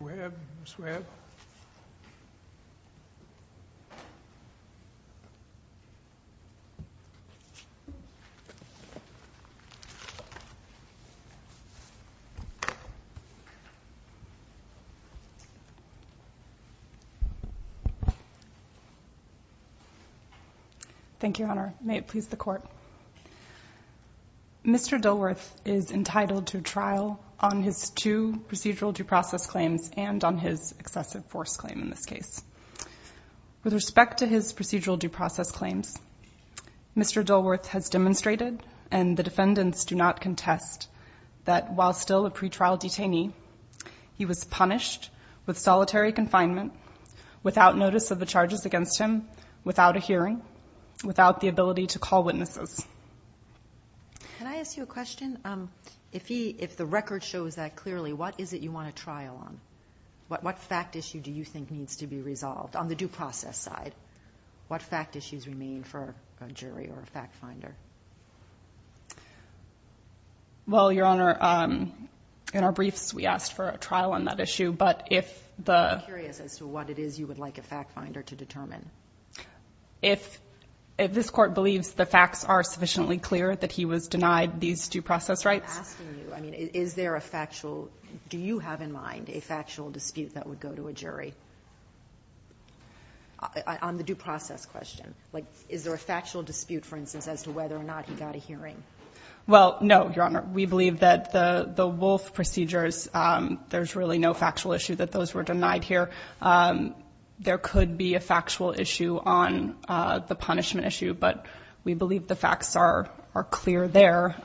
Webb. Thank you, Your Honor. May it please the court. Mr. Dilworth is entitled to trial on his two procedural due process claims and on his excessive force claim in this case. With respect to his procedural due process claims, Mr. Dilworth has demonstrated and the defendants do not contest that while still a pretrial detainee, he was punished with solitary confinement, without notice of the charges against him, without a hearing, without the ability to call witnesses. Can I ask you a question? If the record shows that clearly, what is it you want a trial on? What fact issue do you think needs to be resolved on the due process side? What fact issues remain for a jury or a fact finder? Well, Your Honor, in our briefs we asked for a trial on that issue, but if the... I'm curious as to what it is you would like a fact finder to determine. If this court believes the facts are sufficiently clear that he was denied these due process rights. I'm asking you, I mean, is there a factual, do you have in mind a factual dispute that would go to a jury? On the due process question. Like, is there a factual dispute, for instance, as to whether or not he got a hearing? Well, no, Your Honor. We believe that the Wolfe procedures, there's really no factual issue that those were denied here. There could be a factual issue on the punishment issue, but we believe the facts are clear there.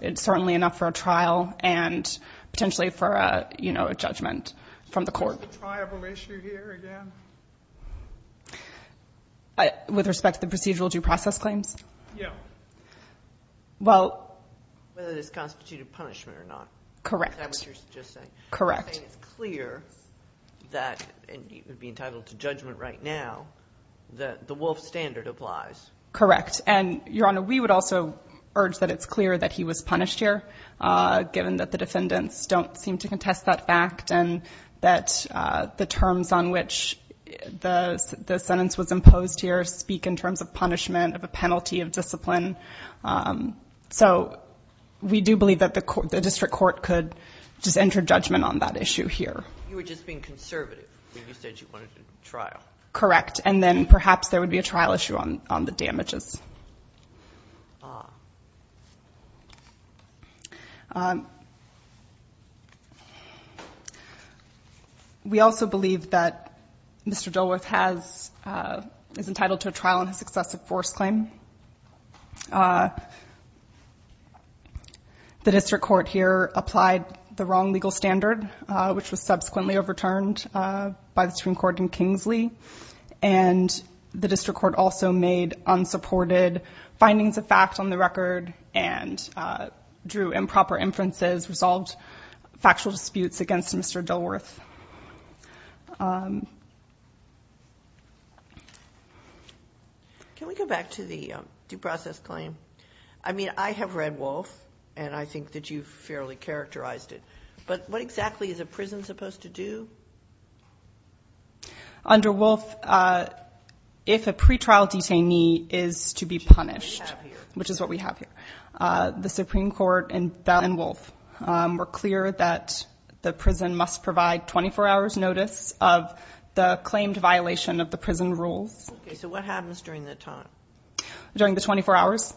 It's certainly enough for a trial and potentially for a judgment from the court. Is this a triable issue here again? With respect to the procedural due process claims? Yeah. Well... Whether it's constituted punishment or not. Correct. Is that what you're just saying? Correct. You're saying it's clear that, and you would be entitled to judgment right now, that the Wolfe standard applies. Correct. And, Your Honor, we would also urge that it's clear that he was punished here, given that the defendants don't seem to contest that fact and that the terms on which the sentence was imposed here speak in terms of punishment, of a penalty of discipline. So, we do believe that the district court could just enter judgment on that issue here. You were just being conservative when you said you wanted a trial. Correct. And then perhaps there would be a trial issue on the damages. We also believe that Mr. Dilworth is entitled to a trial on his excessive force claim. The district court here applied the wrong legal standard, which was subsequently overturned by the Supreme Court in Kingsley. And the district court also made unsupported findings of fact on the record and drew improper inferences, resolved factual disputes against Mr. Dilworth. Can we go back to the due process claim? I mean, I have read Wolfe and I think that you've fairly characterized it, but what exactly is a prison supposed to do? Under Wolfe, if a pretrial detainee is to be punished, which is what we have here, the Supreme Court and Dilworth were clear that the prison must provide 24 hours notice of the claimed violation of the prison rules. Okay, so what happens during that time? During the 24 hours,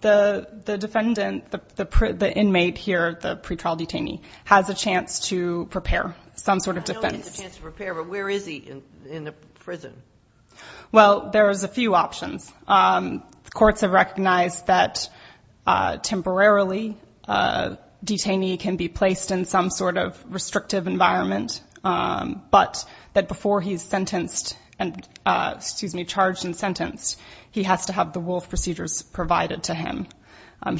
the defendant, the inmate here, the pretrial detainee, has a chance to prepare some sort of defense. I know he has a chance to prepare, but where is he in the prison? Well, there is a few options. Courts have recognized that temporarily, a detainee can be placed in some sort of restrictive environment, but that before he's sentenced, excuse me, charged and sentenced, he has to have the Wolfe procedures provided to him.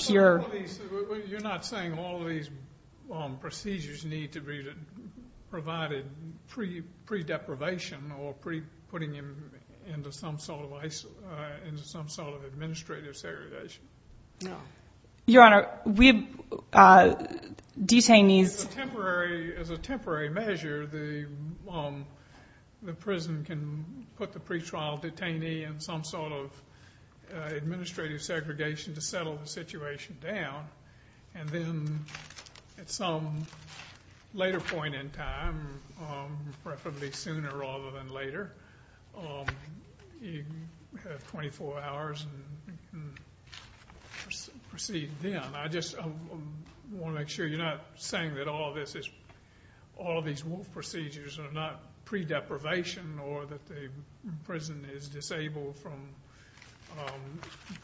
You're not saying all these procedures need to be provided pre-deprivation or pre-putting him into some sort of administrative segregation? No. Your Honor, we, detainees... As a temporary measure, the prison can put the pretrial detainee in some sort of administrative segregation to settle the situation down, and then at some later point in time, preferably sooner rather than later, you have 24 hours and proceed then. I just want to make sure you're not saying that all this is, all these Wolfe procedures are not pre-deprivation or that the prison is disabled from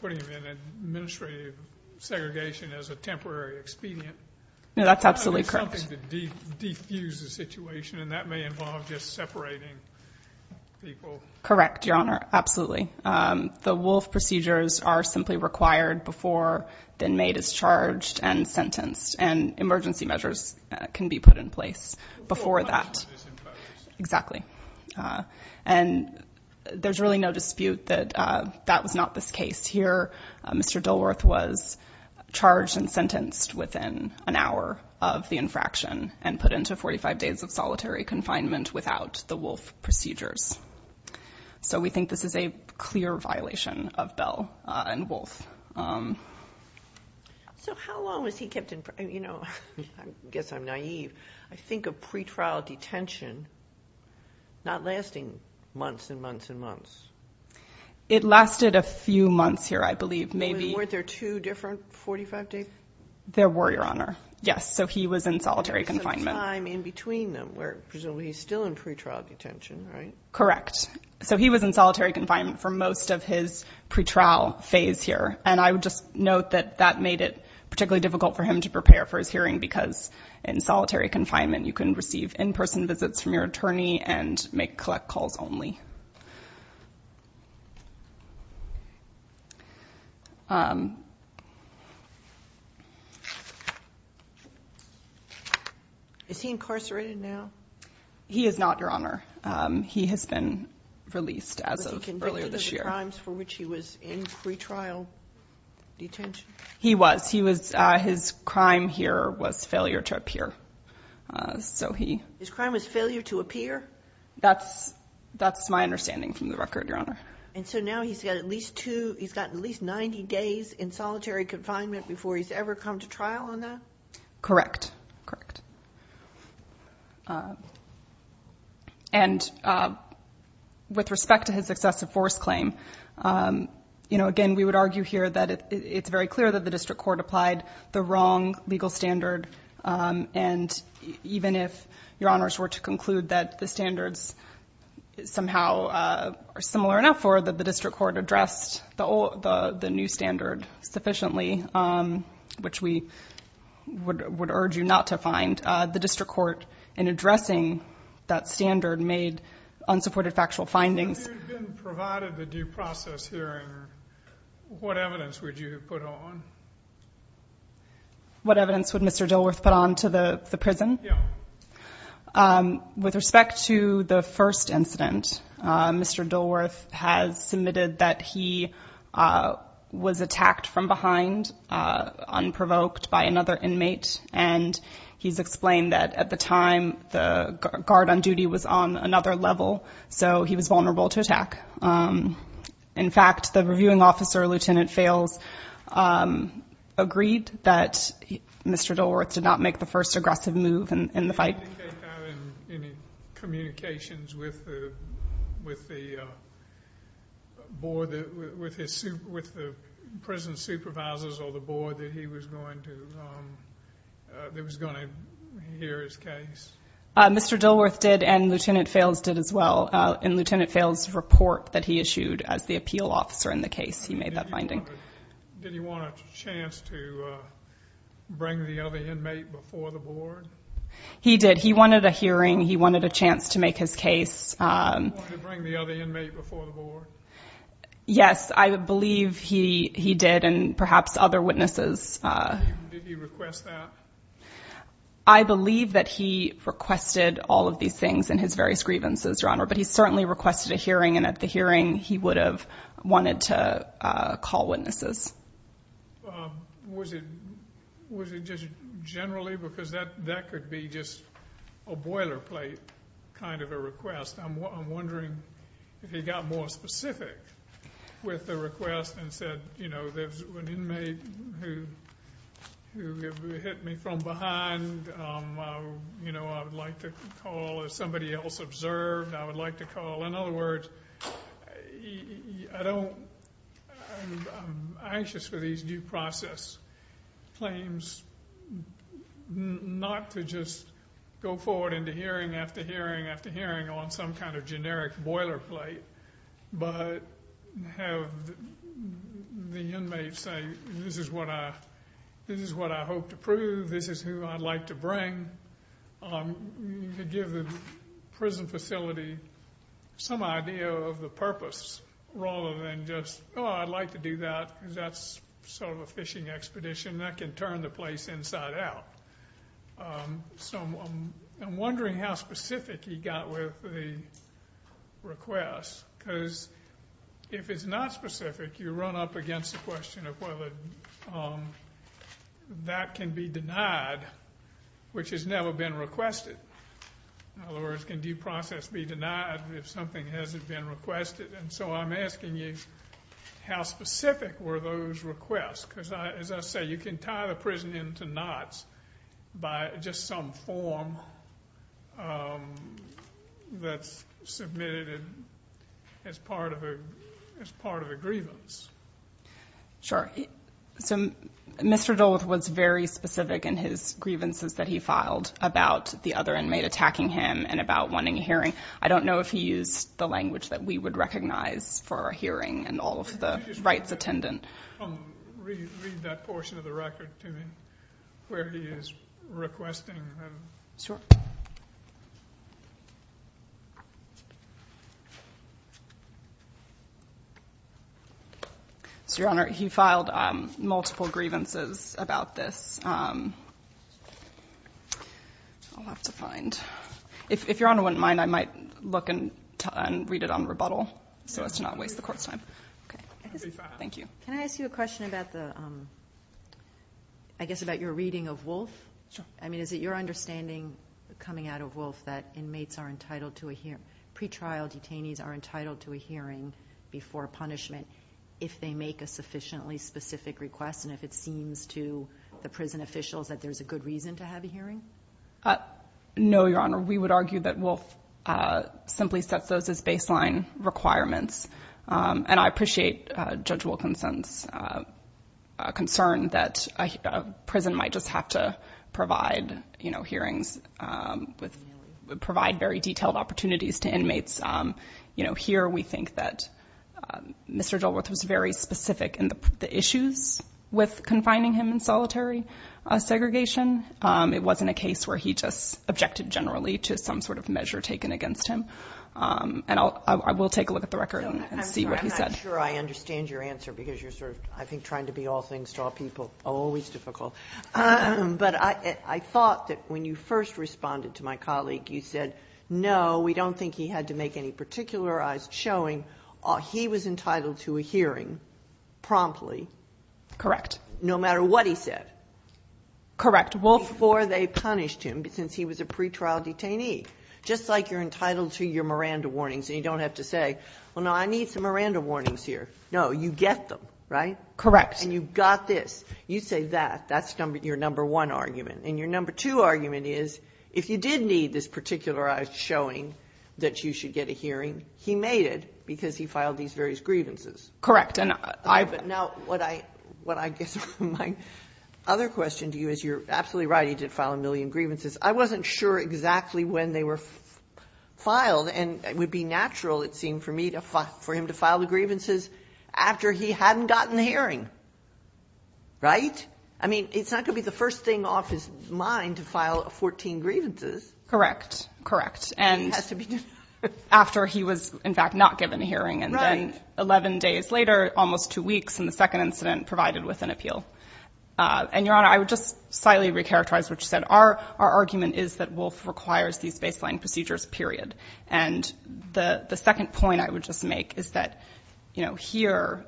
putting him in administrative segregation as a temporary expedient? No, that's absolutely correct. Something to defuse the situation, and that may involve just separating people. Correct, Your Honor, absolutely. The Wolfe procedures are simply required before the inmate is charged and sentenced, and emergency measures can be put in place before that. And there's really no dispute that that was not this case. Here, Mr. Dilworth was charged and sentenced within an hour of the infraction and put into 45 days of solitary confinement without the Wolfe procedures. So we think this is a clear violation of Bell and Wolfe. So how long was he kept in, you know, I guess I'm naive, I think of pretrial detention not lasting months and months and months. It lasted a few months here, I believe, maybe. Weren't there two different 45 days? There were, Your Honor. Yes, so he was in solitary confinement. There was some time in between them where he's still in pretrial detention, right? Correct. So he was in solitary confinement for most of his pretrial phase here, and I would just note that that made it particularly difficult for him to prepare for his hearing because in solitary confinement you can receive in-person He is not, Your Honor. He has been released as of earlier this year. Was he convicted of the crimes for which he was in pretrial detention? He was. His crime here was failure to appear. His crime was failure to appear? That's my understanding from the record, Your Honor. And so now he's got at least 90 days in solitary confinement before he's ever come to trial on that? Correct. And with respect to his excessive force claim, you know, again, we would argue here that it's very clear that the district court applied the wrong legal standard, and even if Your Honors were to conclude that the standards somehow are similar enough or that the district court addressed the new standard sufficiently, which we would urge you not to find, the district court, in addressing that standard, made unsupported factual findings. If you'd been provided the due process hearing, what evidence would you have put on? What evidence would Mr. Dilworth put on to the was attacked from behind, unprovoked by another inmate, and he's explained that at the time the guard on duty was on another level, so he was vulnerable to attack. In fact, the reviewing officer, Lt. Fales, agreed that Mr. Dilworth did not make the first aggressive move in the fight. Did he indicate that in any communications with the prison supervisors or the board that he was going to hear his case? Mr. Dilworth did, and Lt. Fales did as well. In Lt. Fales' report that he issued as the appeal officer in the case, he made that finding. Did he want a chance to bring the other inmate before the board? He did. He wanted a hearing. He wanted a chance to make his case. Did he want to bring the other inmate before the board? Yes, I believe he did, and perhaps other witnesses. Did he request that? I believe that he requested all of these things in his various grievances, Your Honor, but he certainly requested a hearing, and at the hearing he would have wanted to call witnesses. Was it just generally, because that could be just a boilerplate kind of a request? I'm wondering if he got more specific with the request and said, you know, there's an inmate who hit me from behind. You know, I would like to call if somebody else observed. I would like to call. In other words, I'm anxious for these due process claims not to just go forward into hearing after hearing after hearing on some kind of generic boilerplate, but have the inmate say, this is what I hope to prove. This is who I'd like to bring. Give the prison facility some idea of the purpose, rather than just, oh, I'd like to do that, because that's sort of a fishing expedition. That can turn the place inside out. So I'm wondering how specific he got with the request, because if it's not specific, you run up against the question of whether that can be denied, which has never been requested. In other words, can due process be denied if something hasn't been requested? And so I'm asking you, how specific were those requests? Because as I say, you can tie the prison into knots by just some form that's submitted as part of a grievance. Sure. So Mr. Duluth was very specific in his grievances that he filed about the other inmate attacking him and about wanting a hearing. I don't know if he used the language that we would recognize for a hearing and all of the rights attendant. Read that portion of the record to me, where he is requesting. Sure. So Your Honor, he filed multiple grievances about this. I'll have to find. If Your Honor wouldn't mind, I might look and read it on rebuttal, so as to not waste the court's time. Thank you. Can I ask you a question about the, I guess about your reading of Wolfe? I mean, is it your understanding coming out of Wolfe that inmates are entitled to a hearing, pretrial detainees are entitled to a hearing before punishment if they make a sufficiently specific request and if it seems to the prison officials that there's a good reason to have a hearing? No, Your Honor. We would argue that Wolfe simply sets those as baseline requirements. And I appreciate Judge Wilkinson's concern that a prison might just have to provide hearings, provide very detailed opportunities to inmates. Here, we think that Mr. Dilworth was very specific in the issues with confining him in solitary segregation. It wasn't a case where he just objected generally to some sort of measure taken against him. And I will take a look at the record and see what he said. I'm not sure I understand your answer because you're sort of, I think, trying to be all things to all people. Always difficult. But I thought that when you first responded to my colleague, you said, no, we don't think he had to make any particularized showing. He was entitled to a hearing promptly. Correct. No matter what he said. Correct. Before they punished him, since he was a pretrial detainee. Just like you're entitled to your Miranda warnings and you don't have to say, well, no, I need some Miranda warnings here. No, you get them, right? Correct. And you've got this. You say that. That's your number one argument. And your number two argument is, if you did need this particularized showing that you should get a hearing, he made it because he filed these various grievances. Correct. Now, what I guess my other question to you is you're absolutely right. He did file a million grievances. I wasn't sure exactly when they were filed. And it would be natural, it seemed for me, for him to file the grievances after he hadn't gotten the hearing. Right? I mean, it's not going to be the first thing off his mind to file 14 grievances. Correct. Correct. And after he was, in fact, not given a hearing. And then 11 days later, almost two weeks in the second incident, provided with an appeal. And Your Honor, I would just slightly recharacterize what you said. Our argument is that Wolf requires these baseline procedures, period. And the second point I would just make is that, you know, here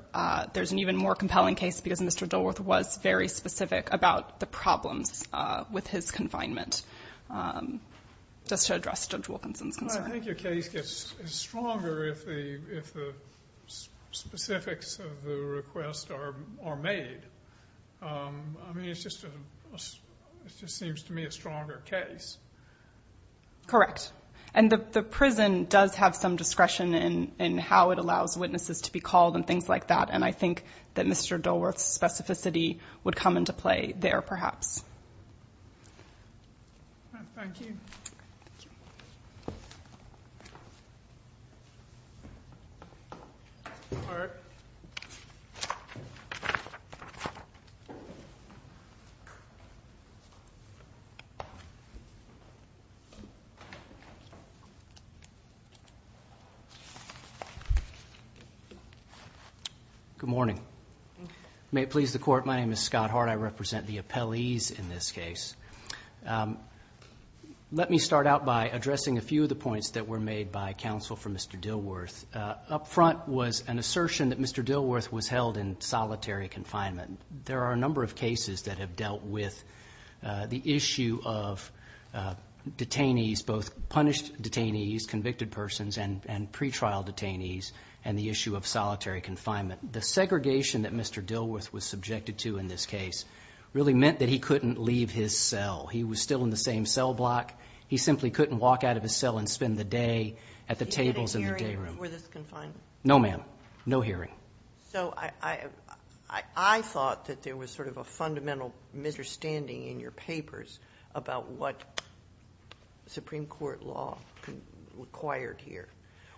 there's an even more compelling case because Mr. Dilworth was very specific about the problems with his confinement. Just to address Judge Wilkinson's concern. I think your case gets stronger if the specifics of the request are made. I mean, it's just, it just seems to me a stronger case. Correct. And the prison does have some discretion in how it allows witnesses to be called and things like that. And I think that Mr. Dilworth's specificity would come into play there, perhaps. Good morning. May it please the Court, my name is Scott Hart. I represent the appellees in this case. Let me start out by addressing a few of the points that were made by counsel for Mr. Dilworth. Up front was an assertion that Mr. Dilworth was held in solitary confinement. There are a number of detainees, both punished detainees, convicted persons, and pre-trial detainees, and the issue of solitary confinement. The segregation that Mr. Dilworth was subjected to in this case really meant that he couldn't leave his cell. He was still in the same cell block. He simply couldn't walk out of his cell and spend the day at the tables in the day room. Did he get a hearing before this confinement? No, ma'am. No hearing. So I thought that there was sort of a fundamental misunderstanding in your papers about what Supreme Court law required here,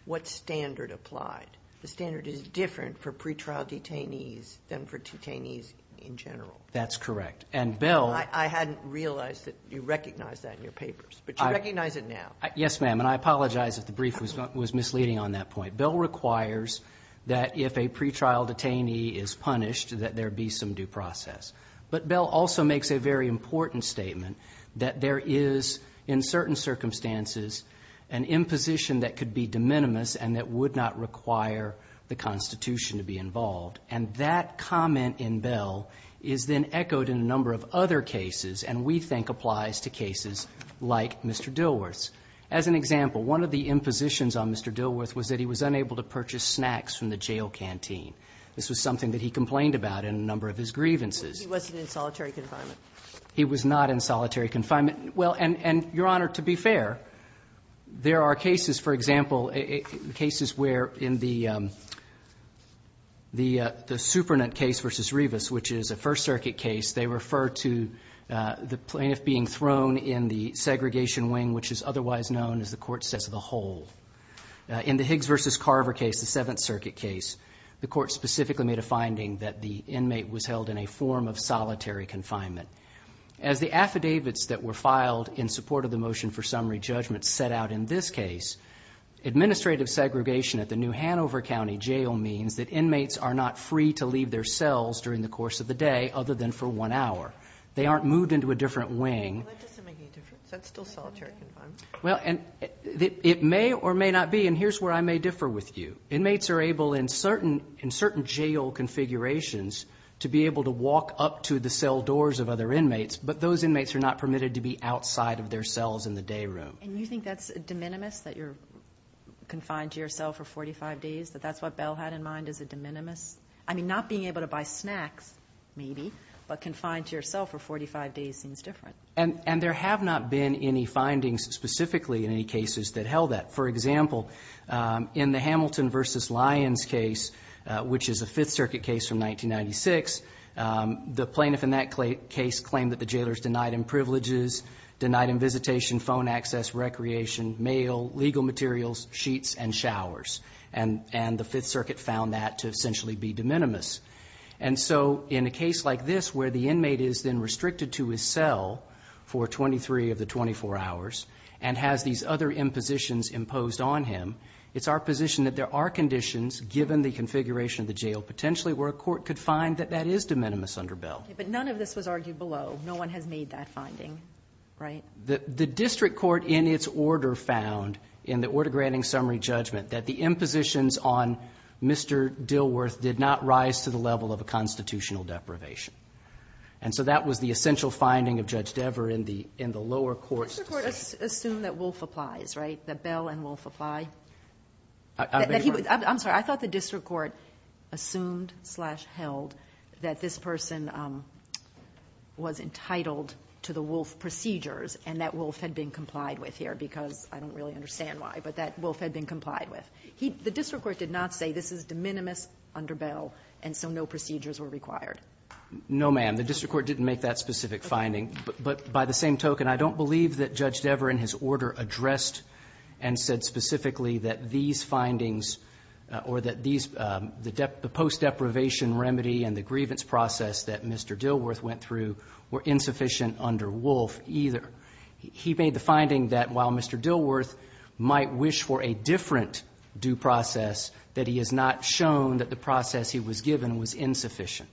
what standard applied. The standard is different for pre-trial detainees than for detainees in general. That's correct. And, Bill— I hadn't realized that you recognized that in your papers, but you recognize it now. Yes, ma'am. And I apologize if the brief was misleading on that point. Bill requires that if a pre-trial detainee is punished, that there be some due process. But Bill also makes a very important statement that there is, in certain circumstances, an imposition that could be de minimis and that would not require the Constitution to be involved. And that comment in Bill is then echoed in a number of other cases, and we think applies to cases like Mr. Dilworth's. As an example, one of the impositions on Mr. Dilworth was that he was unable to purchase snacks from the jail canteen. This was something that he complained about in a number of his grievances. He wasn't in solitary confinement? He was not in solitary confinement. Well, and, Your Honor, to be fair, there are cases, for example, cases where in the Supernant case v. Rivas, which is a First Circuit case, they refer to the plaintiff being thrown in the segregation wing, which is otherwise known as the court says the hole. In the Higgs v. Carver case, the Seventh Circuit case, the court specifically made a finding that the inmate was held in a form of solitary confinement. As the affidavits that were filed in support of the motion for summary judgment set out in this case, administrative segregation at the New Hanover County Jail means that inmates are not free to leave their cells during the course of the day other than for one hour. They aren't moved into a different wing. Well, that doesn't make any difference. That's still solitary confinement. Well, and it may or may not be, and here's where I may differ with you. Inmates are able in certain jail configurations to be able to walk up to the cell doors of other inmates, but those inmates are not permitted to be outside of their cells in the day room. And you think that's de minimis, that you're confined to your cell for 45 days, that that's what Bell had in mind as a de minimis? I mean, not being able to buy snacks, maybe, but confined to your cell for 45 days seems different. And there have not been any findings specifically in any cases that held that. For example, in the Hamilton v. Lyons case, which is a Fifth Circuit case from 1996, the plaintiff in that case claimed that the jailer's denied him privileges, denied him visitation, phone access, recreation, mail, legal materials, sheets, and showers. And the Fifth Circuit found that to essentially be de minimis. And so in a case like this, where the inmate is then restricted to his cell for 23 of the 24 hours and has these other impositions imposed on him, it's our position that there are conditions, given the configuration of the jail, potentially where a court could find that that is de minimis under Bell. But none of this was argued below. No one has made that finding, right? The district court in its order found, in the order granting summary judgment, that the impositions on Mr. Dilworth did not rise to the level of a constitutional deprivation. And so that was the essential finding of Judge Dever in the lower courts. The district court assumed that Wolfe applies, right? That Bell and Wolfe apply? I beg your pardon? I'm sorry. I thought the district court assumed slash held that this person was entitled to the Wolfe procedures and that Wolfe had been complied with here, because I don't really understand why, but that Wolfe had been complied with. The district court did not say this is de minimis under Bell, and so no procedures were required. No, ma'am. The district court didn't make that specific finding. But by the same token, I don't believe that Judge Dever, in his order, addressed and said specifically that these findings or that the post-deprivation remedy and the grievance process that Mr. Dilworth went through were insufficient under Wolfe either. He made the finding that while Mr. Dilworth might wish for a different due process, that he has not shown that the process he was given was insufficient.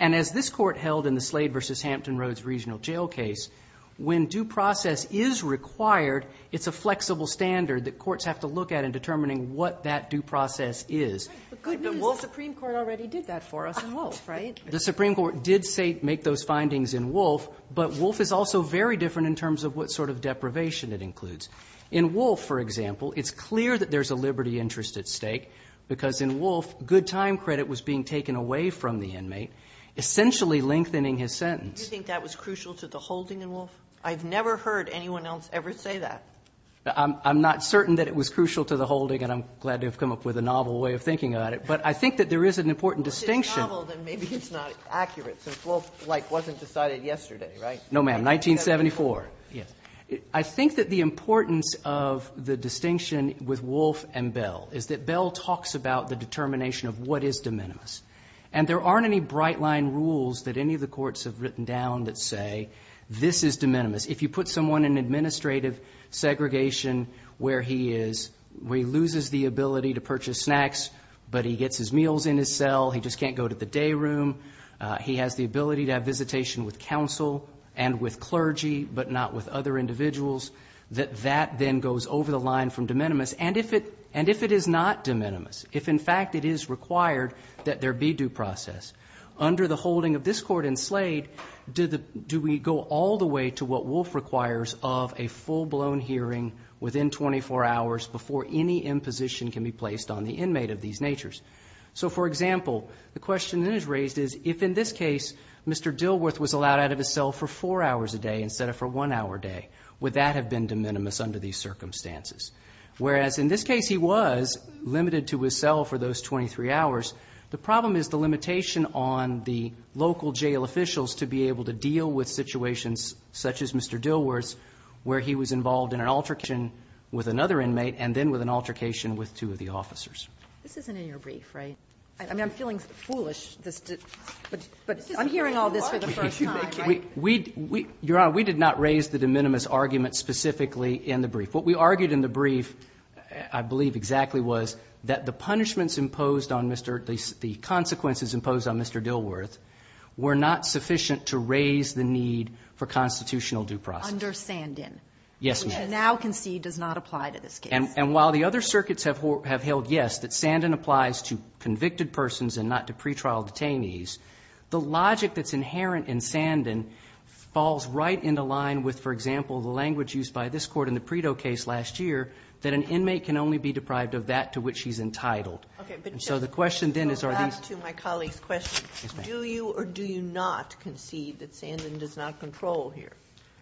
And as this court held in the Slade v. Hampton Roads Regional Jail case, when due process is required, it's a flexible standard that courts have to look at in determining what that due process is. But good news, the Wolfe Supreme Court already did that for us in Wolfe, right? The Supreme Court did say make those findings in Wolfe, but Wolfe is also very different in terms of what sort of deprivation it includes. In Wolfe, for example, it's clear that there's a liberty interest at stake, because in Wolfe, good time credit was being taken away from the inmate, essentially lengthening his sentence. Do you think that was crucial to the holding in Wolfe? I've never heard anyone else ever say that. I'm not certain that it was crucial to the holding, and I'm glad to have come up with a novel way of thinking about it. But I think that there is an important distinction. If it's novel, then maybe it's not accurate, since Wolfe, like, wasn't decided yesterday, right? No, ma'am. 1974. Yes. I think that the importance of the distinction with Wolfe and Bell is that Bell talks about the determination of what is de minimis. And there aren't any bright-line rules that any of the courts have written down that say, this is de minimis. If you put someone in administrative segregation where he is, where he loses the ability to purchase snacks, but he gets his meals in his cell, he just can't go to the day room, he has the ability to have visitation with counsel and with clergy, but not with other individuals, that that then goes over the line from de minimis. And if it is not de minimis, if, in fact, it is required that there be due process, under the holding of this court in Slade, do we go all the way to what Wolfe requires of a full-blown hearing within 24 hours before any imposition can be placed on the inmate of these natures? So, for example, the question that is raised is, if in this case, Mr. Dilworth was allowed out of his cell for four hours a day instead of for one hour a day, would that have been de minimis under these circumstances? Whereas in this case, he was limited to his cell for those 23 hours. The problem is the limitation on the local jail officials to be able to deal with situations such as Mr. Dilworth's, where he was involved in an altercation with another inmate and then with an altercation with two of the officers. This isn't in your brief, right? I mean, I'm feeling foolish. But I'm hearing all this for the first time. We, Your Honor, we did not raise the de minimis argument specifically in the brief. What we argued in the brief, I believe exactly, was that the punishments imposed on Mr. Dilworth, the consequences imposed on Mr. Dilworth, were not sufficient to raise the need for constitutional due process. Under Sandin, which you now concede does not apply to this case. And while the other circuits have held, yes, that Sandin applies to convicted persons and not to pretrial detainees, the logic that's inherent in Sandin falls right in the line with, for example, the language used by this court in the Predo case last year, that an inmate can only be deprived of that to which he's entitled. Okay, but just to go back to my colleague's question, do you or do you not concede that Sandin does not control here?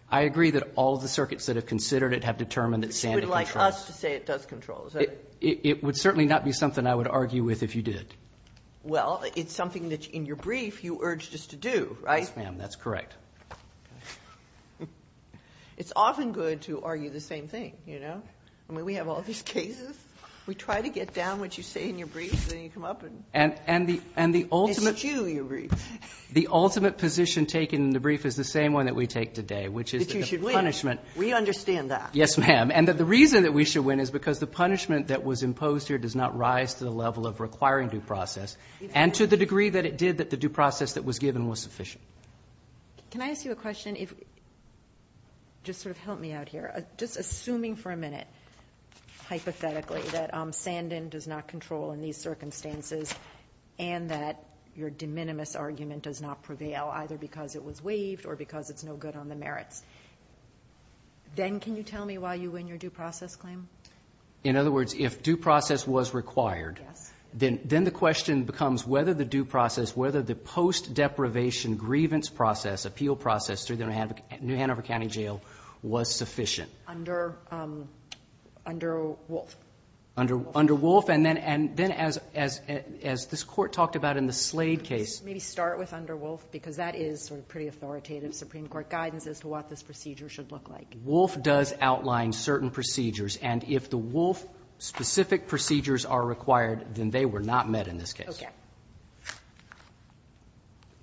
I agree that all of the circuits that have considered it have determined that Sandin controls. You would like us to say it does control, is that it? It would certainly not be something I would argue with if you did. Well, it's something that in your brief you urged us to do, right? Yes, ma'am, that's correct. It's often good to argue the same thing, you know? I mean, we have all these cases. We try to get down what you say in your brief, then you come up and... And the ultimate... It's you, your brief. The ultimate position taken in the brief is the same one that we take today, which is that the punishment... That you should win. We understand that. Yes, ma'am. And that the reason that we should win is because the punishment that was imposed here does not rise to the level of requiring due process and to the degree that it did that the due process that was given was sufficient. Can I ask you a question? Just sort of help me out here. Just assuming for a minute, hypothetically, that Sandin does not control in these circumstances and that your de minimis argument does not prevail, either because it was waived or because it's no good on the merits, then can you tell me why you win your due process claim? In other words, if due process was required, then the question becomes whether the due process, whether the post-deprivation grievance appeal process through the New Hanover County Jail was sufficient. Under Wolf. Under Wolf. And then as this court talked about in the Slade case... Maybe start with under Wolf, because that is sort of pretty authoritative Supreme Court guidance as to what this procedure should look like. Wolf does outline certain procedures, and if the Wolf-specific procedures are required, then they were not met in this case. Okay.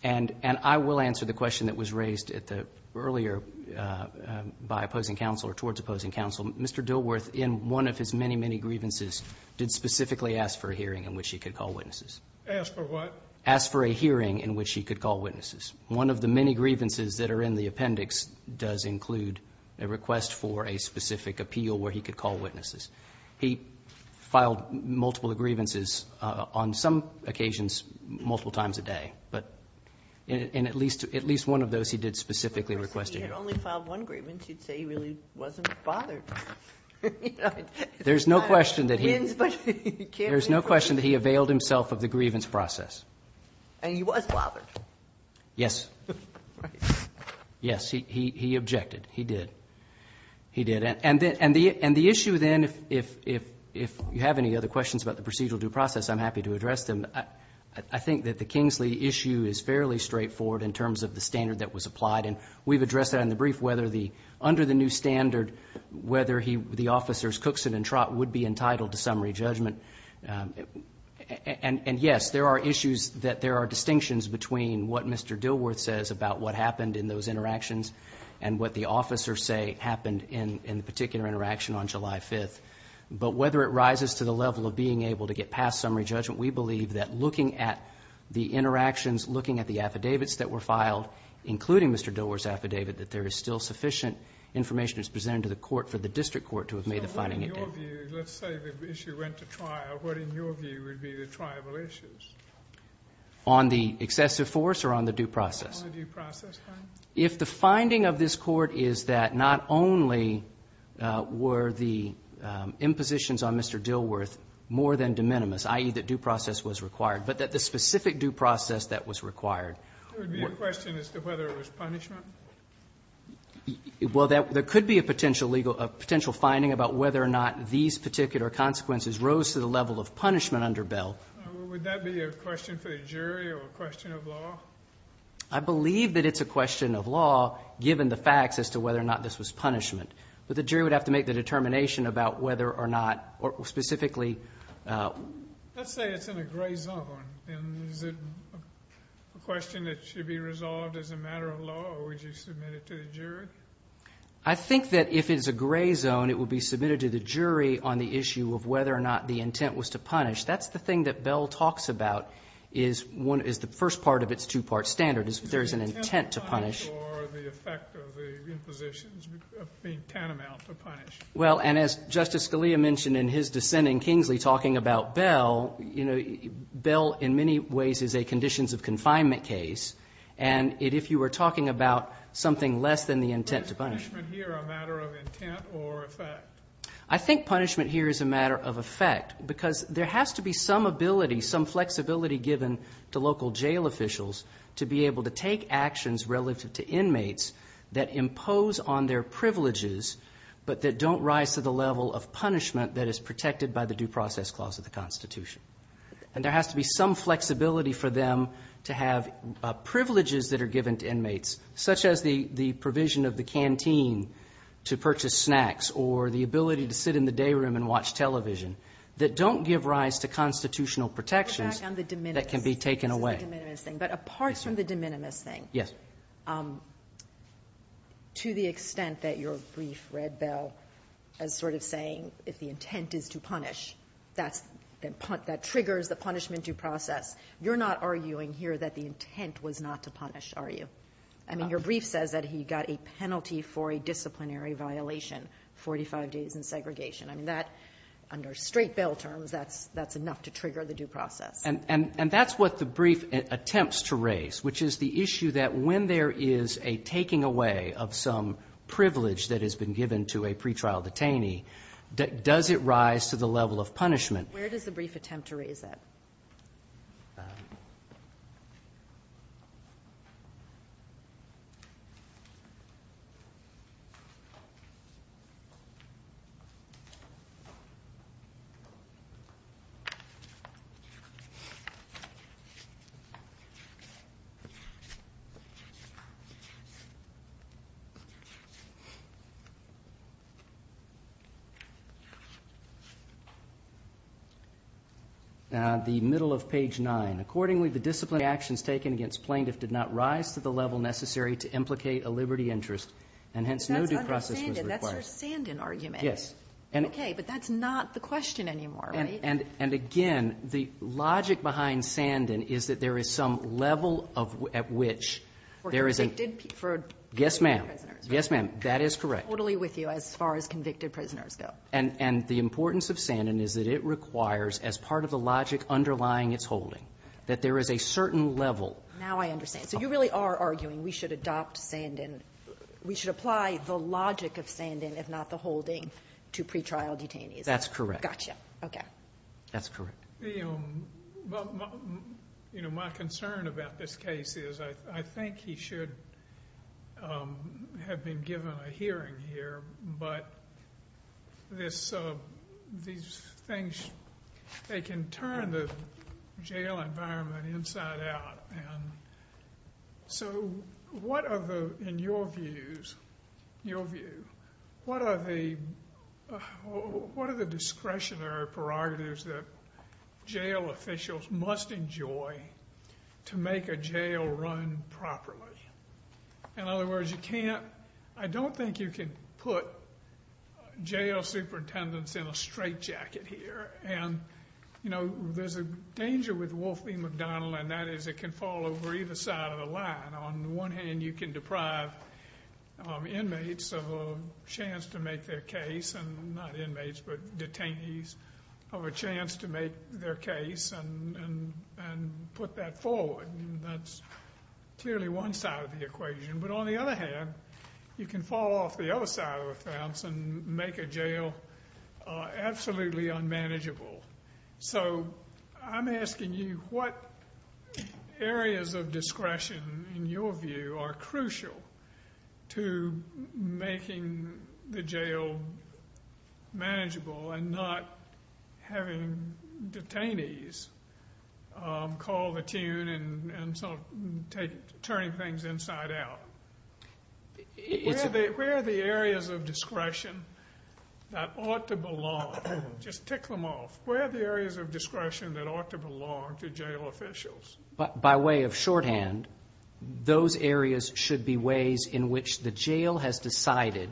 And I will answer the question that was raised earlier by opposing counsel or towards opposing counsel. Mr. Dilworth, in one of his many, many grievances, did specifically ask for a hearing in which he could call witnesses. Ask for what? Ask for a hearing in which he could call witnesses. One of the many grievances that are in the appendix does include a request for a specific appeal where he could call witnesses. He filed multiple grievances, on some occasions, multiple times a day, but in at least one of those, he did specifically request a hearing. If he had only filed one grievance, you'd say he really wasn't bothered. There's no question that he availed himself of the grievance process. And he was bothered. Yes. Right. Yes, he objected. He did. He did. And the issue then, if you have any other questions about the procedural due process, I'm happy to address them. I think that the Kingsley issue is fairly straightforward in terms of the standard that was applied, and we've addressed that in the brief, whether under the new standard, whether the officers Cookson and Trott would be entitled to summary judgment. And yes, there are issues that there are distinctions between what Mr. Dilworth says about what happened in those interactions and what the officers say happened in the particular interaction on July 5th. But whether it rises to the level of being able to get past summary judgment, we believe that looking at the interactions, looking at the affidavits that were filed, including Mr. Dilworth's affidavit, that there is still sufficient information that's presented to the court for the district court to have made the finding. So what in your view, let's say the issue went to trial, what in your view would be the triable issues? On the excessive force or on the due process? On the due process, fine. If the finding of this court is that not only were the impositions on Mr. Dilworth more than de minimis, i.e. that due process was required, but that the specific due process that was required. There would be a question as to whether it was punishment? Well, there could be a potential legal, a potential finding about whether or not these particular consequences rose to the level of punishment under Bell. Would that be a question for the jury or a question of law? I believe that it's a question of law, given the facts as to whether or not this was punishment. But the jury would have to make the determination about whether or not, or specifically... Let's say it's in a gray zone. And is it a question that should be resolved as a matter of law or would you submit it to the jury? I think that if it's a gray zone, it will be submitted to the jury on the issue of whether or not the intent was to punish. That's the thing that Bell talks about is the first part of its two-part standard, is there is an intent to punish. Is the intent to punish or the effect of the impositions being tantamount to punish? Well, and as Justice Scalia mentioned in his dissent in Kingsley talking about Bell, you know, Bell in many ways is a conditions of confinement case. And if you were talking about something less than the intent to punish... Is punishment here a matter of intent or effect? I think punishment here is a matter of effect, because there has to be some ability, some flexibility given to local jail officials to be able to take actions relative to inmates that impose on their privileges, but that don't rise to the level of punishment that is protected by the Due Process Clause of the Constitution. And there has to be some flexibility for them to have privileges that are given to inmates, such as the provision of the canteen to purchase snacks or the ability to sit in the day room and watch television that don't give rise to constitutional protections that can be taken away. But apart from the de minimis thing, to the extent that your brief read Bell as sort of saying, if the intent is to punish, that triggers the punishment due process. You're not arguing here that the intent was not to punish, are you? I mean, your brief says that he got a penalty for a disciplinary violation, 45 days in segregation. I mean, that under straight bail terms, that's enough to trigger the due process. And that's what the brief attempts to raise, which is the issue that when there is a taking away of some privilege that has been given to a pretrial detainee, does it rise to the level of punishment? Where does the brief attempt to raise that? Okay. The middle of page nine. Accordingly, the disciplinary actions taken against plaintiff did not rise to the level necessary to implicate a liberty interest. And hence, no due process was required. That's your Sandan argument. Yes. Okay. But that's not the question anymore, right? And again, the logic behind Sandan is that there is some level at which there is a ---- For convicted prisoners. Yes, ma'am. Yes, ma'am. That is correct. I'm totally with you as far as convicted prisoners go. And the importance of Sandan is that it requires, as part of the logic underlying its holding, that there is a certain level of ---- Now I understand. So you really are arguing we should adopt Sandan, we should apply the logic of Sandan, if not the holding, to pretrial detainees. That's correct. Gotcha. Okay. That's correct. You know, my concern about this case is I think he should have been given a hearing here, but these things, they can turn the jail environment inside out. And so what are the, in your views, your view, what are the discretionary prerogatives that jail officials must enjoy to make a jail run properly? In other words, you can't, I don't think you can put jail superintendents in a straight jacket here. And, you know, there's a danger with Wolf v. McDonnell, and that is it can fall over either side of the line. On the one hand, you can deprive inmates of a chance to make their case, and not inmates, but detainees, of a chance to make their case and put that forward. That's clearly one side of the equation. But on the other hand, you can fall off the other side of the fence and make a jail absolutely unmanageable. So I'm asking you what areas of discretion, in your view, are crucial to making the jail manageable and not having detainees call the tune and sort of turning things inside out? Where are the areas of discretion that ought to belong? Just tick them off. Where are the areas of discretion that ought to belong to jail officials? By way of shorthand, those areas should be ways in which the jail has decided,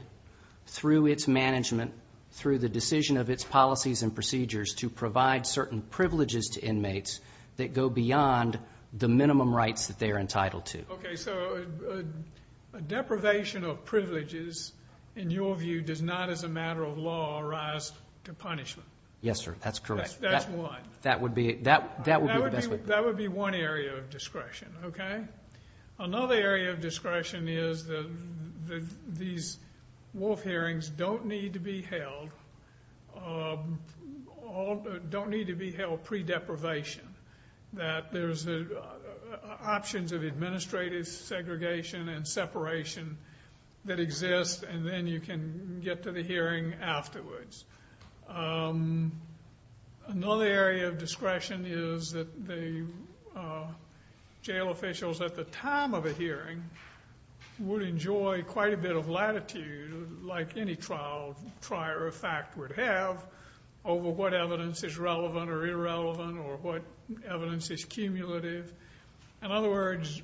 through its management, through the decision of its policies and procedures, to provide certain privileges to inmates that go beyond the minimum rights that they are entitled to. So deprivation of privileges, in your view, does not, as a matter of law, arise to punishment? Yes, sir. That's correct. That's what? That would be the best way. That would be one area of discretion. Another area of discretion is that these Wolf hearings don't need to be held pre-deprivation, that there's options of administrative segregation and separation that exist, and then you can get to the hearing afterwards. Another area of discretion is that the jail officials, at the time of a hearing, would enjoy quite a bit of latitude, like any trial trier of fact would have, over what evidence is relevant or irrelevant or what evidence is cumulative. In other words,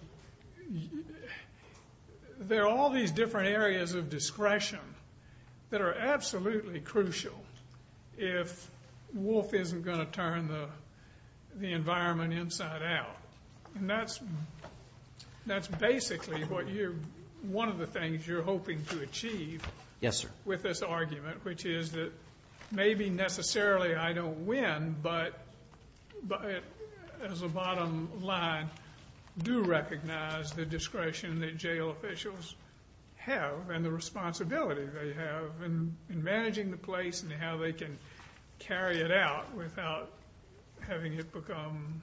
there are all these different areas of discretion that are absolutely crucial if Wolf isn't going to turn the environment inside out. That's basically one of the things you're hoping to achieve with this argument, which is that maybe necessarily I don't win, but as a bottom line, do recognize the discretion that jail officials have and the responsibility they have in managing the place and how they can carry it out without having it become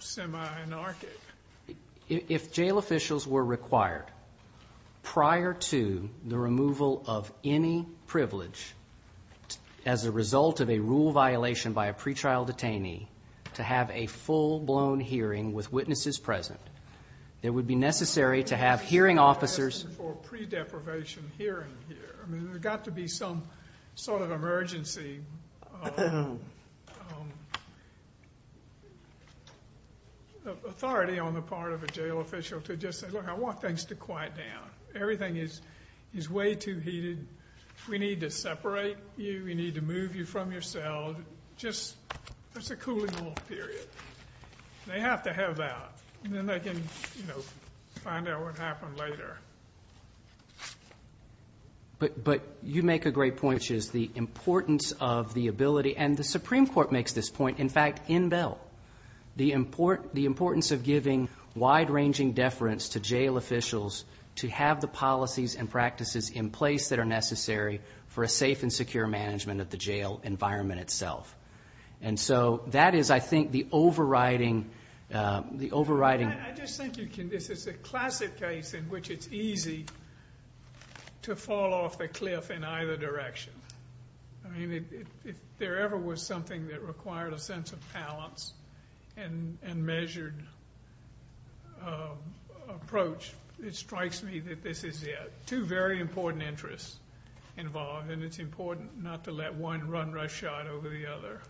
semi-anarchic. If jail officials were required prior to the removal of any privilege as a result of a rule violation by a pretrial detainee to have a full-blown hearing with witnesses present, it would be necessary to have hearing officers... I'm not asking for a pre-deprivation hearing here. There's got to be some sort of emergency authority on the part of a jail official to just say, look, I want things to quiet down. Everything is way too heated. We need to separate you. We need to move you from yourself. It's a cooling-off period. They have to have that, and then they can find out what happened later. But you make a great point, which is the importance of the ability, and the Supreme Court makes this point, in fact, in Bell. The importance of giving wide-ranging deference to jail officials to have the policies and practices in place that are necessary for a safe and secure management of the jail environment itself. And so that is, I think, the overriding... easy to fall off the cliff in either direction. I mean, if there ever was something that required a sense of balance and measured approach, it strikes me that this is it. Two very important interests involved, and it's important not to let one run rush shot over the other.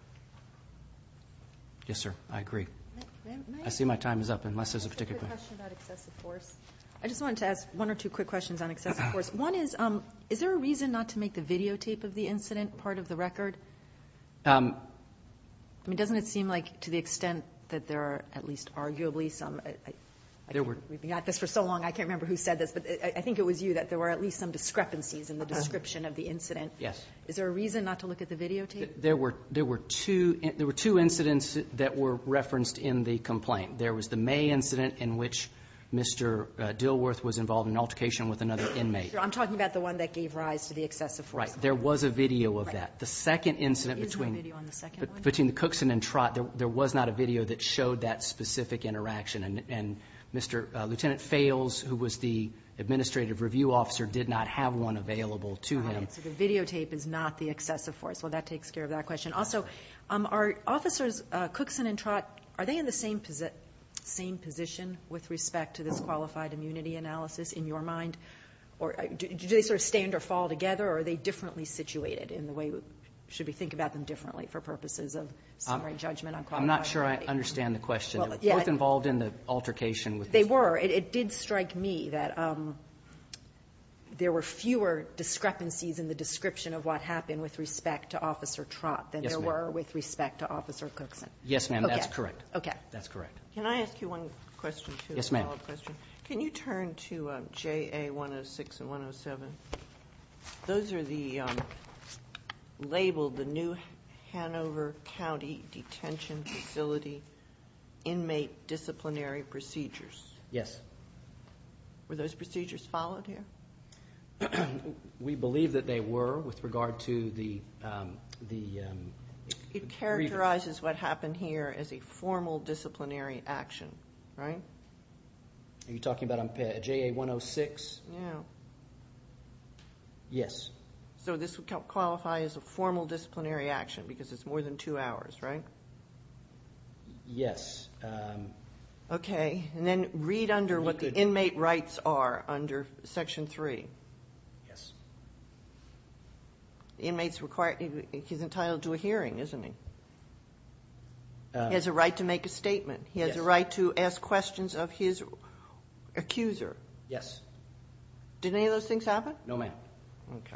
Yes, sir, I agree. I see my time is up, unless there's a particular... I have a question about excessive force. I just wanted to ask one or two quick questions on excessive force. One is, is there a reason not to make the videotape of the incident part of the record? I mean, doesn't it seem like, to the extent that there are at least arguably some... We've got this for so long, I can't remember who said this, but I think it was you, that there were at least some discrepancies in the description of the incident. Yes. Is there a reason not to look at the videotape? There were two incidents that were referenced in the complaint. There was the May incident in which Mr. Dilworth was involved in an altercation with another inmate. I'm talking about the one that gave rise to the excessive force. Right. There was a video of that. The second incident between the Cookson and Trott, there was not a video that showed that specific interaction. And Mr. Lieutenant Fales, who was the administrative review officer, did not have one available to him. So the videotape is not the excessive force. Well, that takes care of that question. Are officers Cookson and Trott, are they in the same position with respect to this qualified immunity analysis in your mind? Do they stand or fall together, or are they differently situated in the way should we think about them differently for purposes of summary judgment on qualified immunity? I'm not sure I understand the question. They were both involved in the altercation. They were. It did strike me that there were fewer discrepancies in the description of what happened with respect to Officer Trott than there were with respect to Officer Cookson. Yes, ma'am. That's correct. OK. That's correct. Can I ask you one question, too? Yes, ma'am. Can you turn to JA 106 and 107? Those are labeled the new Hanover County Detention Facility inmate disciplinary procedures. Yes. Were those procedures followed here? We believe that they were with regard to the... It characterizes what happened here as a formal disciplinary action, right? Are you talking about JA 106? Yeah. Yes. So this would qualify as a formal disciplinary action because it's more than two hours, right? Yes. OK. And then read under what the inmate rights are under section three. Yes. Inmates require... He's entitled to a hearing, isn't he? He has a right to make a statement. He has a right to ask questions of his accuser. Yes. Did any of those things happen? No, ma'am. OK.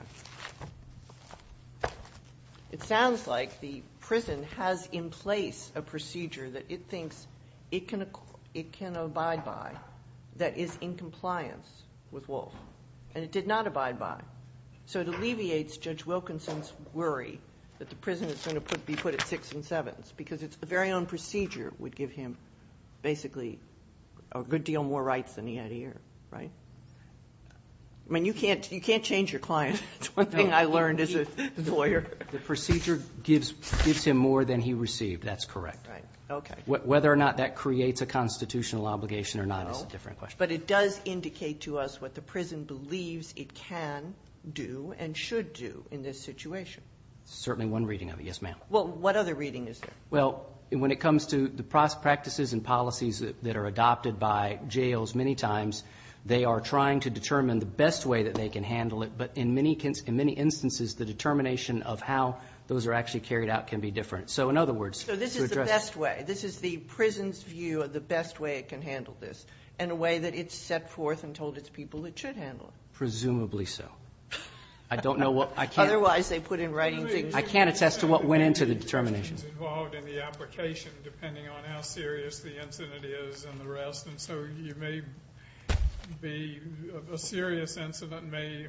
It sounds like the prison has in place a procedure that it thinks it can abide by that is in compliance with Wolf and it did not abide by. So it alleviates Judge Wilkinson's worry that the prison is going to be put at six and sevens because it's the very own procedure would give him basically a good deal more rights than he had here. Right? I mean, you can't change your client. That's one thing I learned as a lawyer. The procedure gives him more than he received. That's correct. Right. OK. Whether or not that creates a constitutional obligation or not is a different question. But it does indicate to us what the prison believes it can do and should do in this situation. Certainly one reading of it. Yes, ma'am. Well, what other reading is there? Well, when it comes to the practices and policies that are adopted by jails many times, they are trying to determine the best way that they can handle it. But in many instances, the determination of how those are actually carried out can be different. So in other words... So this is the best way. This is the prison's view of the best way it can handle this in a way that it's set forth and told its people it should handle it. Presumably so. I don't know what I can... Otherwise, they put in writing things... I can't attest to what went into the determination. ...involved in the application depending on how serious the incident is and the rest. And so you may be... A serious incident may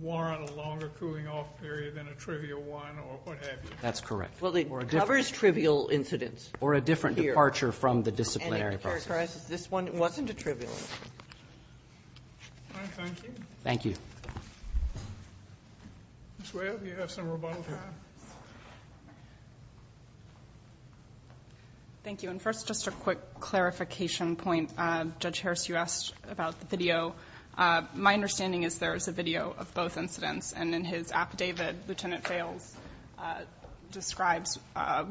warrant a longer cooling off period than a trivial one or what have you. That's correct. It covers trivial incidents. Or a different departure from the disciplinary process. This one wasn't a trivial. All right. Thank you. Thank you. Ms. Webb, you have some rebuttals here. Thank you. And first, just a quick clarification point. Judge Harris, you asked about the video. My understanding is there is a video of both incidents. And in his affidavit, Lieutenant Fales describes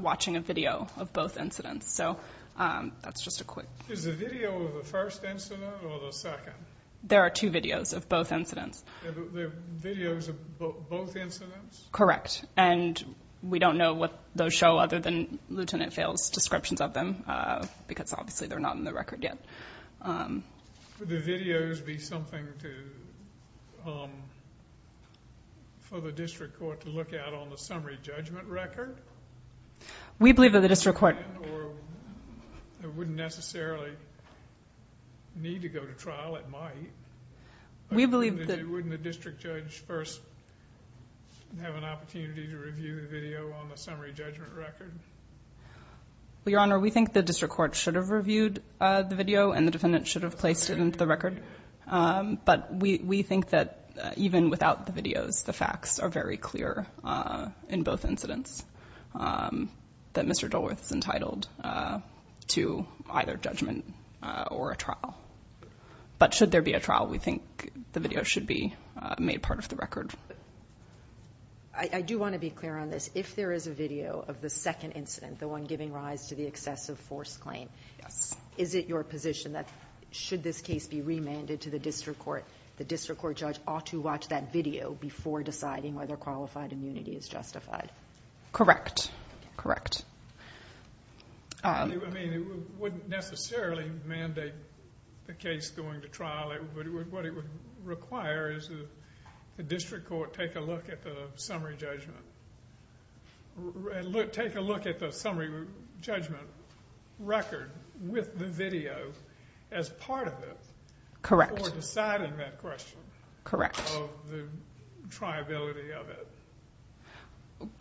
watching a video of both incidents. So that's just a quick... Is the video of the first incident or the second? There are two videos of both incidents. Videos of both incidents? Correct. And we don't know what those show other than Lieutenant Fales' descriptions of them because obviously they're not in the record yet. Would the videos be something for the district court to look at on the summary judgment record? We believe that the district court... Or it wouldn't necessarily need to go to trial. It might. We believe that... Wouldn't the district judge first have an opportunity to review the video on the summary judgment record? Well, Your Honor, we think the district court should have reviewed the video. And the defendant should have placed it into the record. But we think that even without the videos, the facts are very clear in both incidents that Mr. Dulworth is entitled to either judgment or a trial. But should there be a trial, we think the video should be made part of the record. I do want to be clear on this. If there is a video of the second incident, the one giving rise to the excessive force claim, is it your position that should this case be remanded to the district court, the district court judge ought to watch that video before deciding whether qualified immunity is justified? Correct. Correct. I mean, it wouldn't necessarily mandate the case going to trial. What it would require is the district court take a look at the summary judgment... with the video as part of it... Correct. ...before deciding that question... Correct. ...of the triability of it.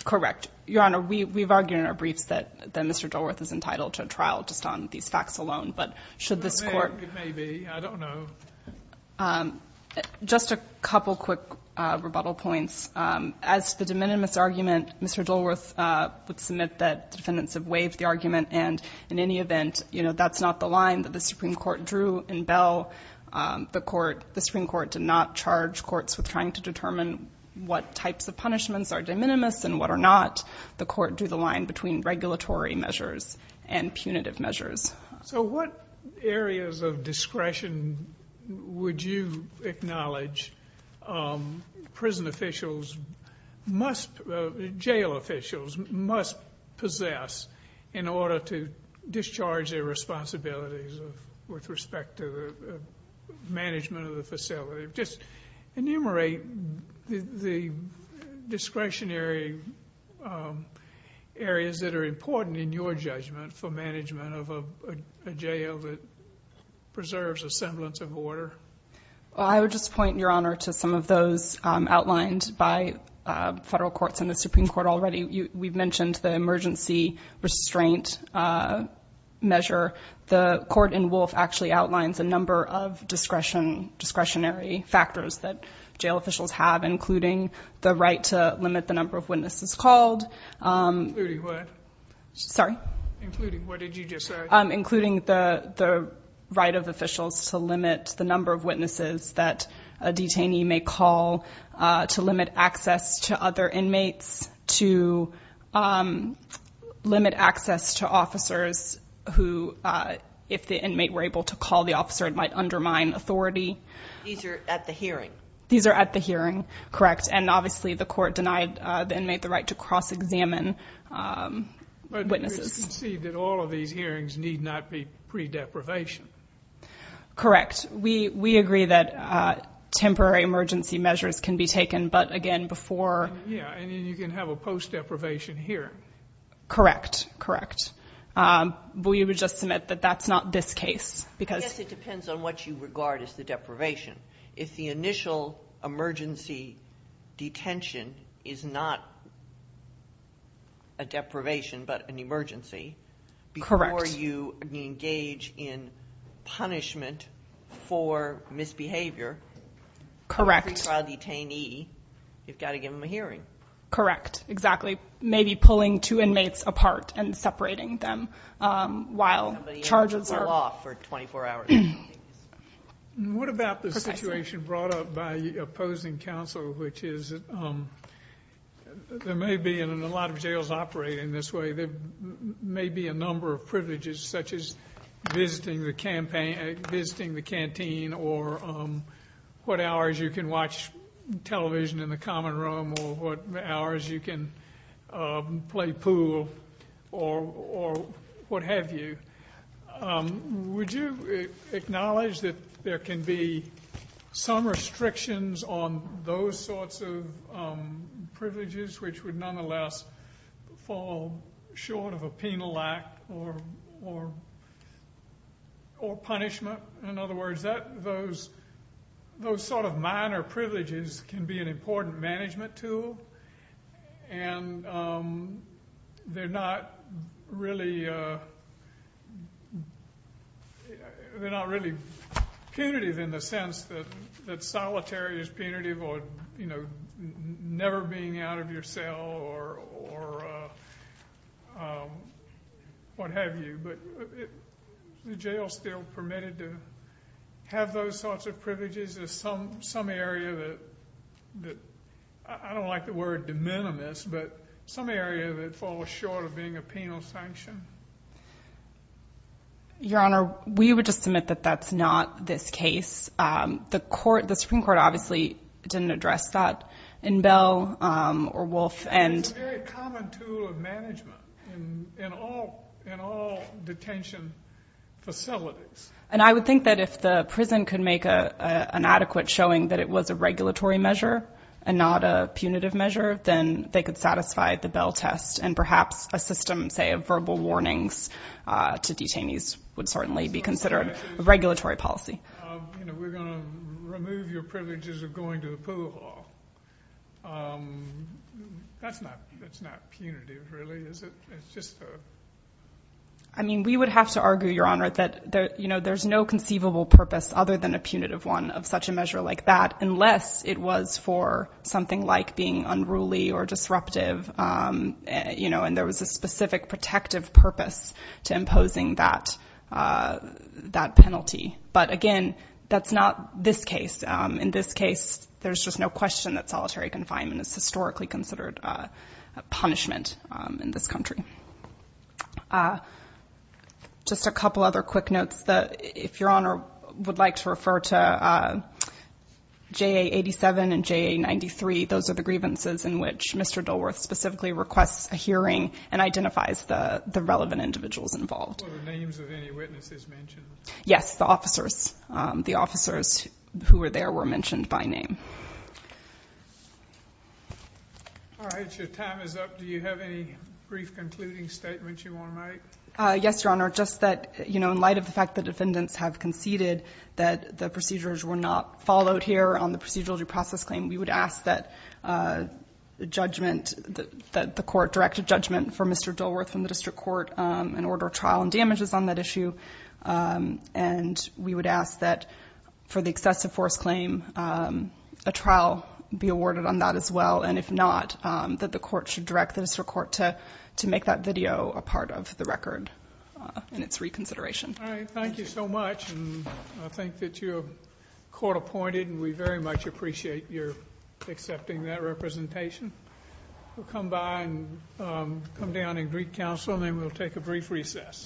Correct. Your Honor, we've argued in our briefs that Mr. Dulworth is entitled to a trial just on these facts alone. But should this court... It may be. I don't know. Just a couple quick rebuttal points. As to the de minimis argument, Mr. Dulworth would submit that the defendants have waived the argument. And in any event, that's not the line that the Supreme Court drew in Bell. The Supreme Court did not charge courts with trying to determine what types of punishments are de minimis and what are not. The court drew the line between regulatory measures and punitive measures. So what areas of discretion would you acknowledge prison officials must... in order to discharge their responsibilities with respect to the management of the facility? Just enumerate the discretionary areas that are important in your judgment for management of a jail that preserves a semblance of order. I would just point, Your Honor, to some of those outlined by federal courts and the Supreme Court already. We've mentioned the emergency restraint measure. The court in Wolfe actually outlines a number of discretionary factors that jail officials have, including the right to limit the number of witnesses called. Including what? Sorry? Including what did you just say? Including the right of officials to limit the number of witnesses that a detainee may call, to limit access to other inmates, to limit access to officers who, if the inmate were able to call the officer, it might undermine authority. These are at the hearing. These are at the hearing. Correct. And obviously the court denied the inmate the right to cross-examine witnesses. But we can see that all of these hearings need not be pre-deprivation. Correct. We agree that temporary emergency measures can be taken. But again, before... Yeah. And then you can have a post-deprivation hearing. Correct. Correct. But we would just submit that that's not this case, because... I guess it depends on what you regard as the deprivation. If the initial emergency detention is not a deprivation, but an emergency... Before you engage in punishment for misbehavior... Correct. Every trial detainee, you've got to give them a hearing. Correct. Exactly. Maybe pulling two inmates apart and separating them while charges are... Somebody has to fall off for 24 hours. What about the situation brought up by opposing counsel, which is, there may be, and a lot of jails operate in this way, there may be a number of privileges, such as visiting the canteen, or what hours you can watch television in the common room, or what hours you can play pool, or what have you. Would you acknowledge that there can be some restrictions on those sorts of privileges, which would nonetheless fall short of a penal act or punishment? In other words, those sort of minor privileges can be an important management tool, and they're not really punitive in the sense that solitary is punitive, you know, never being out of your cell or what have you, but the jail's still permitted to have those sorts of privileges. There's some area that, I don't like the word de minimis, but some area that falls short of being a penal sanction. Your Honor, we would just submit that that's not this case. The Supreme Court obviously didn't address that in Bell or Wolf. It's a very common tool of management in all detention facilities. I would think that if the prison could make an adequate showing that it was a regulatory measure and not a punitive measure, then they could satisfy the Bell test, and perhaps a system, say, of verbal warnings to detainees would certainly be considered a regulatory policy. We're going to remove your privileges of going to the pool hall. That's not punitive, really, is it? I mean, we would have to argue, Your Honor, that there's no conceivable purpose other than a punitive one of such a measure like that, unless it was for something like being unruly or disruptive, and there was a specific protective purpose to imposing that penalty. But again, that's not this case. In this case, there's just no question that solitary confinement is historically considered a punishment in this country. Just a couple other quick notes that if Your Honor would like to refer to JA 87 and JA 93. Those are the grievances in which Mr. Dilworth specifically requests a hearing and identifies the relevant individuals involved. Were the names of any witnesses mentioned? Yes, the officers. The officers who were there were mentioned by name. All right. Your time is up. Do you have any brief concluding statements you want to make? Yes, Your Honor. Just that, you know, in light of the fact that defendants have conceded that the procedures were not followed here on the procedural due process claim, we would ask that the court direct a judgment for Mr. Dilworth from the district court and order trial and damages on that issue. And we would ask that for the excessive force claim, a trial be awarded on that as well. And if not, that the court should direct the district court to make that video a part of the record in its reconsideration. All right. Thank you so much. And I think that you're court appointed, and we very much appreciate your accepting that representation. We'll come by and come down and greet counsel, and then we'll take a brief recess.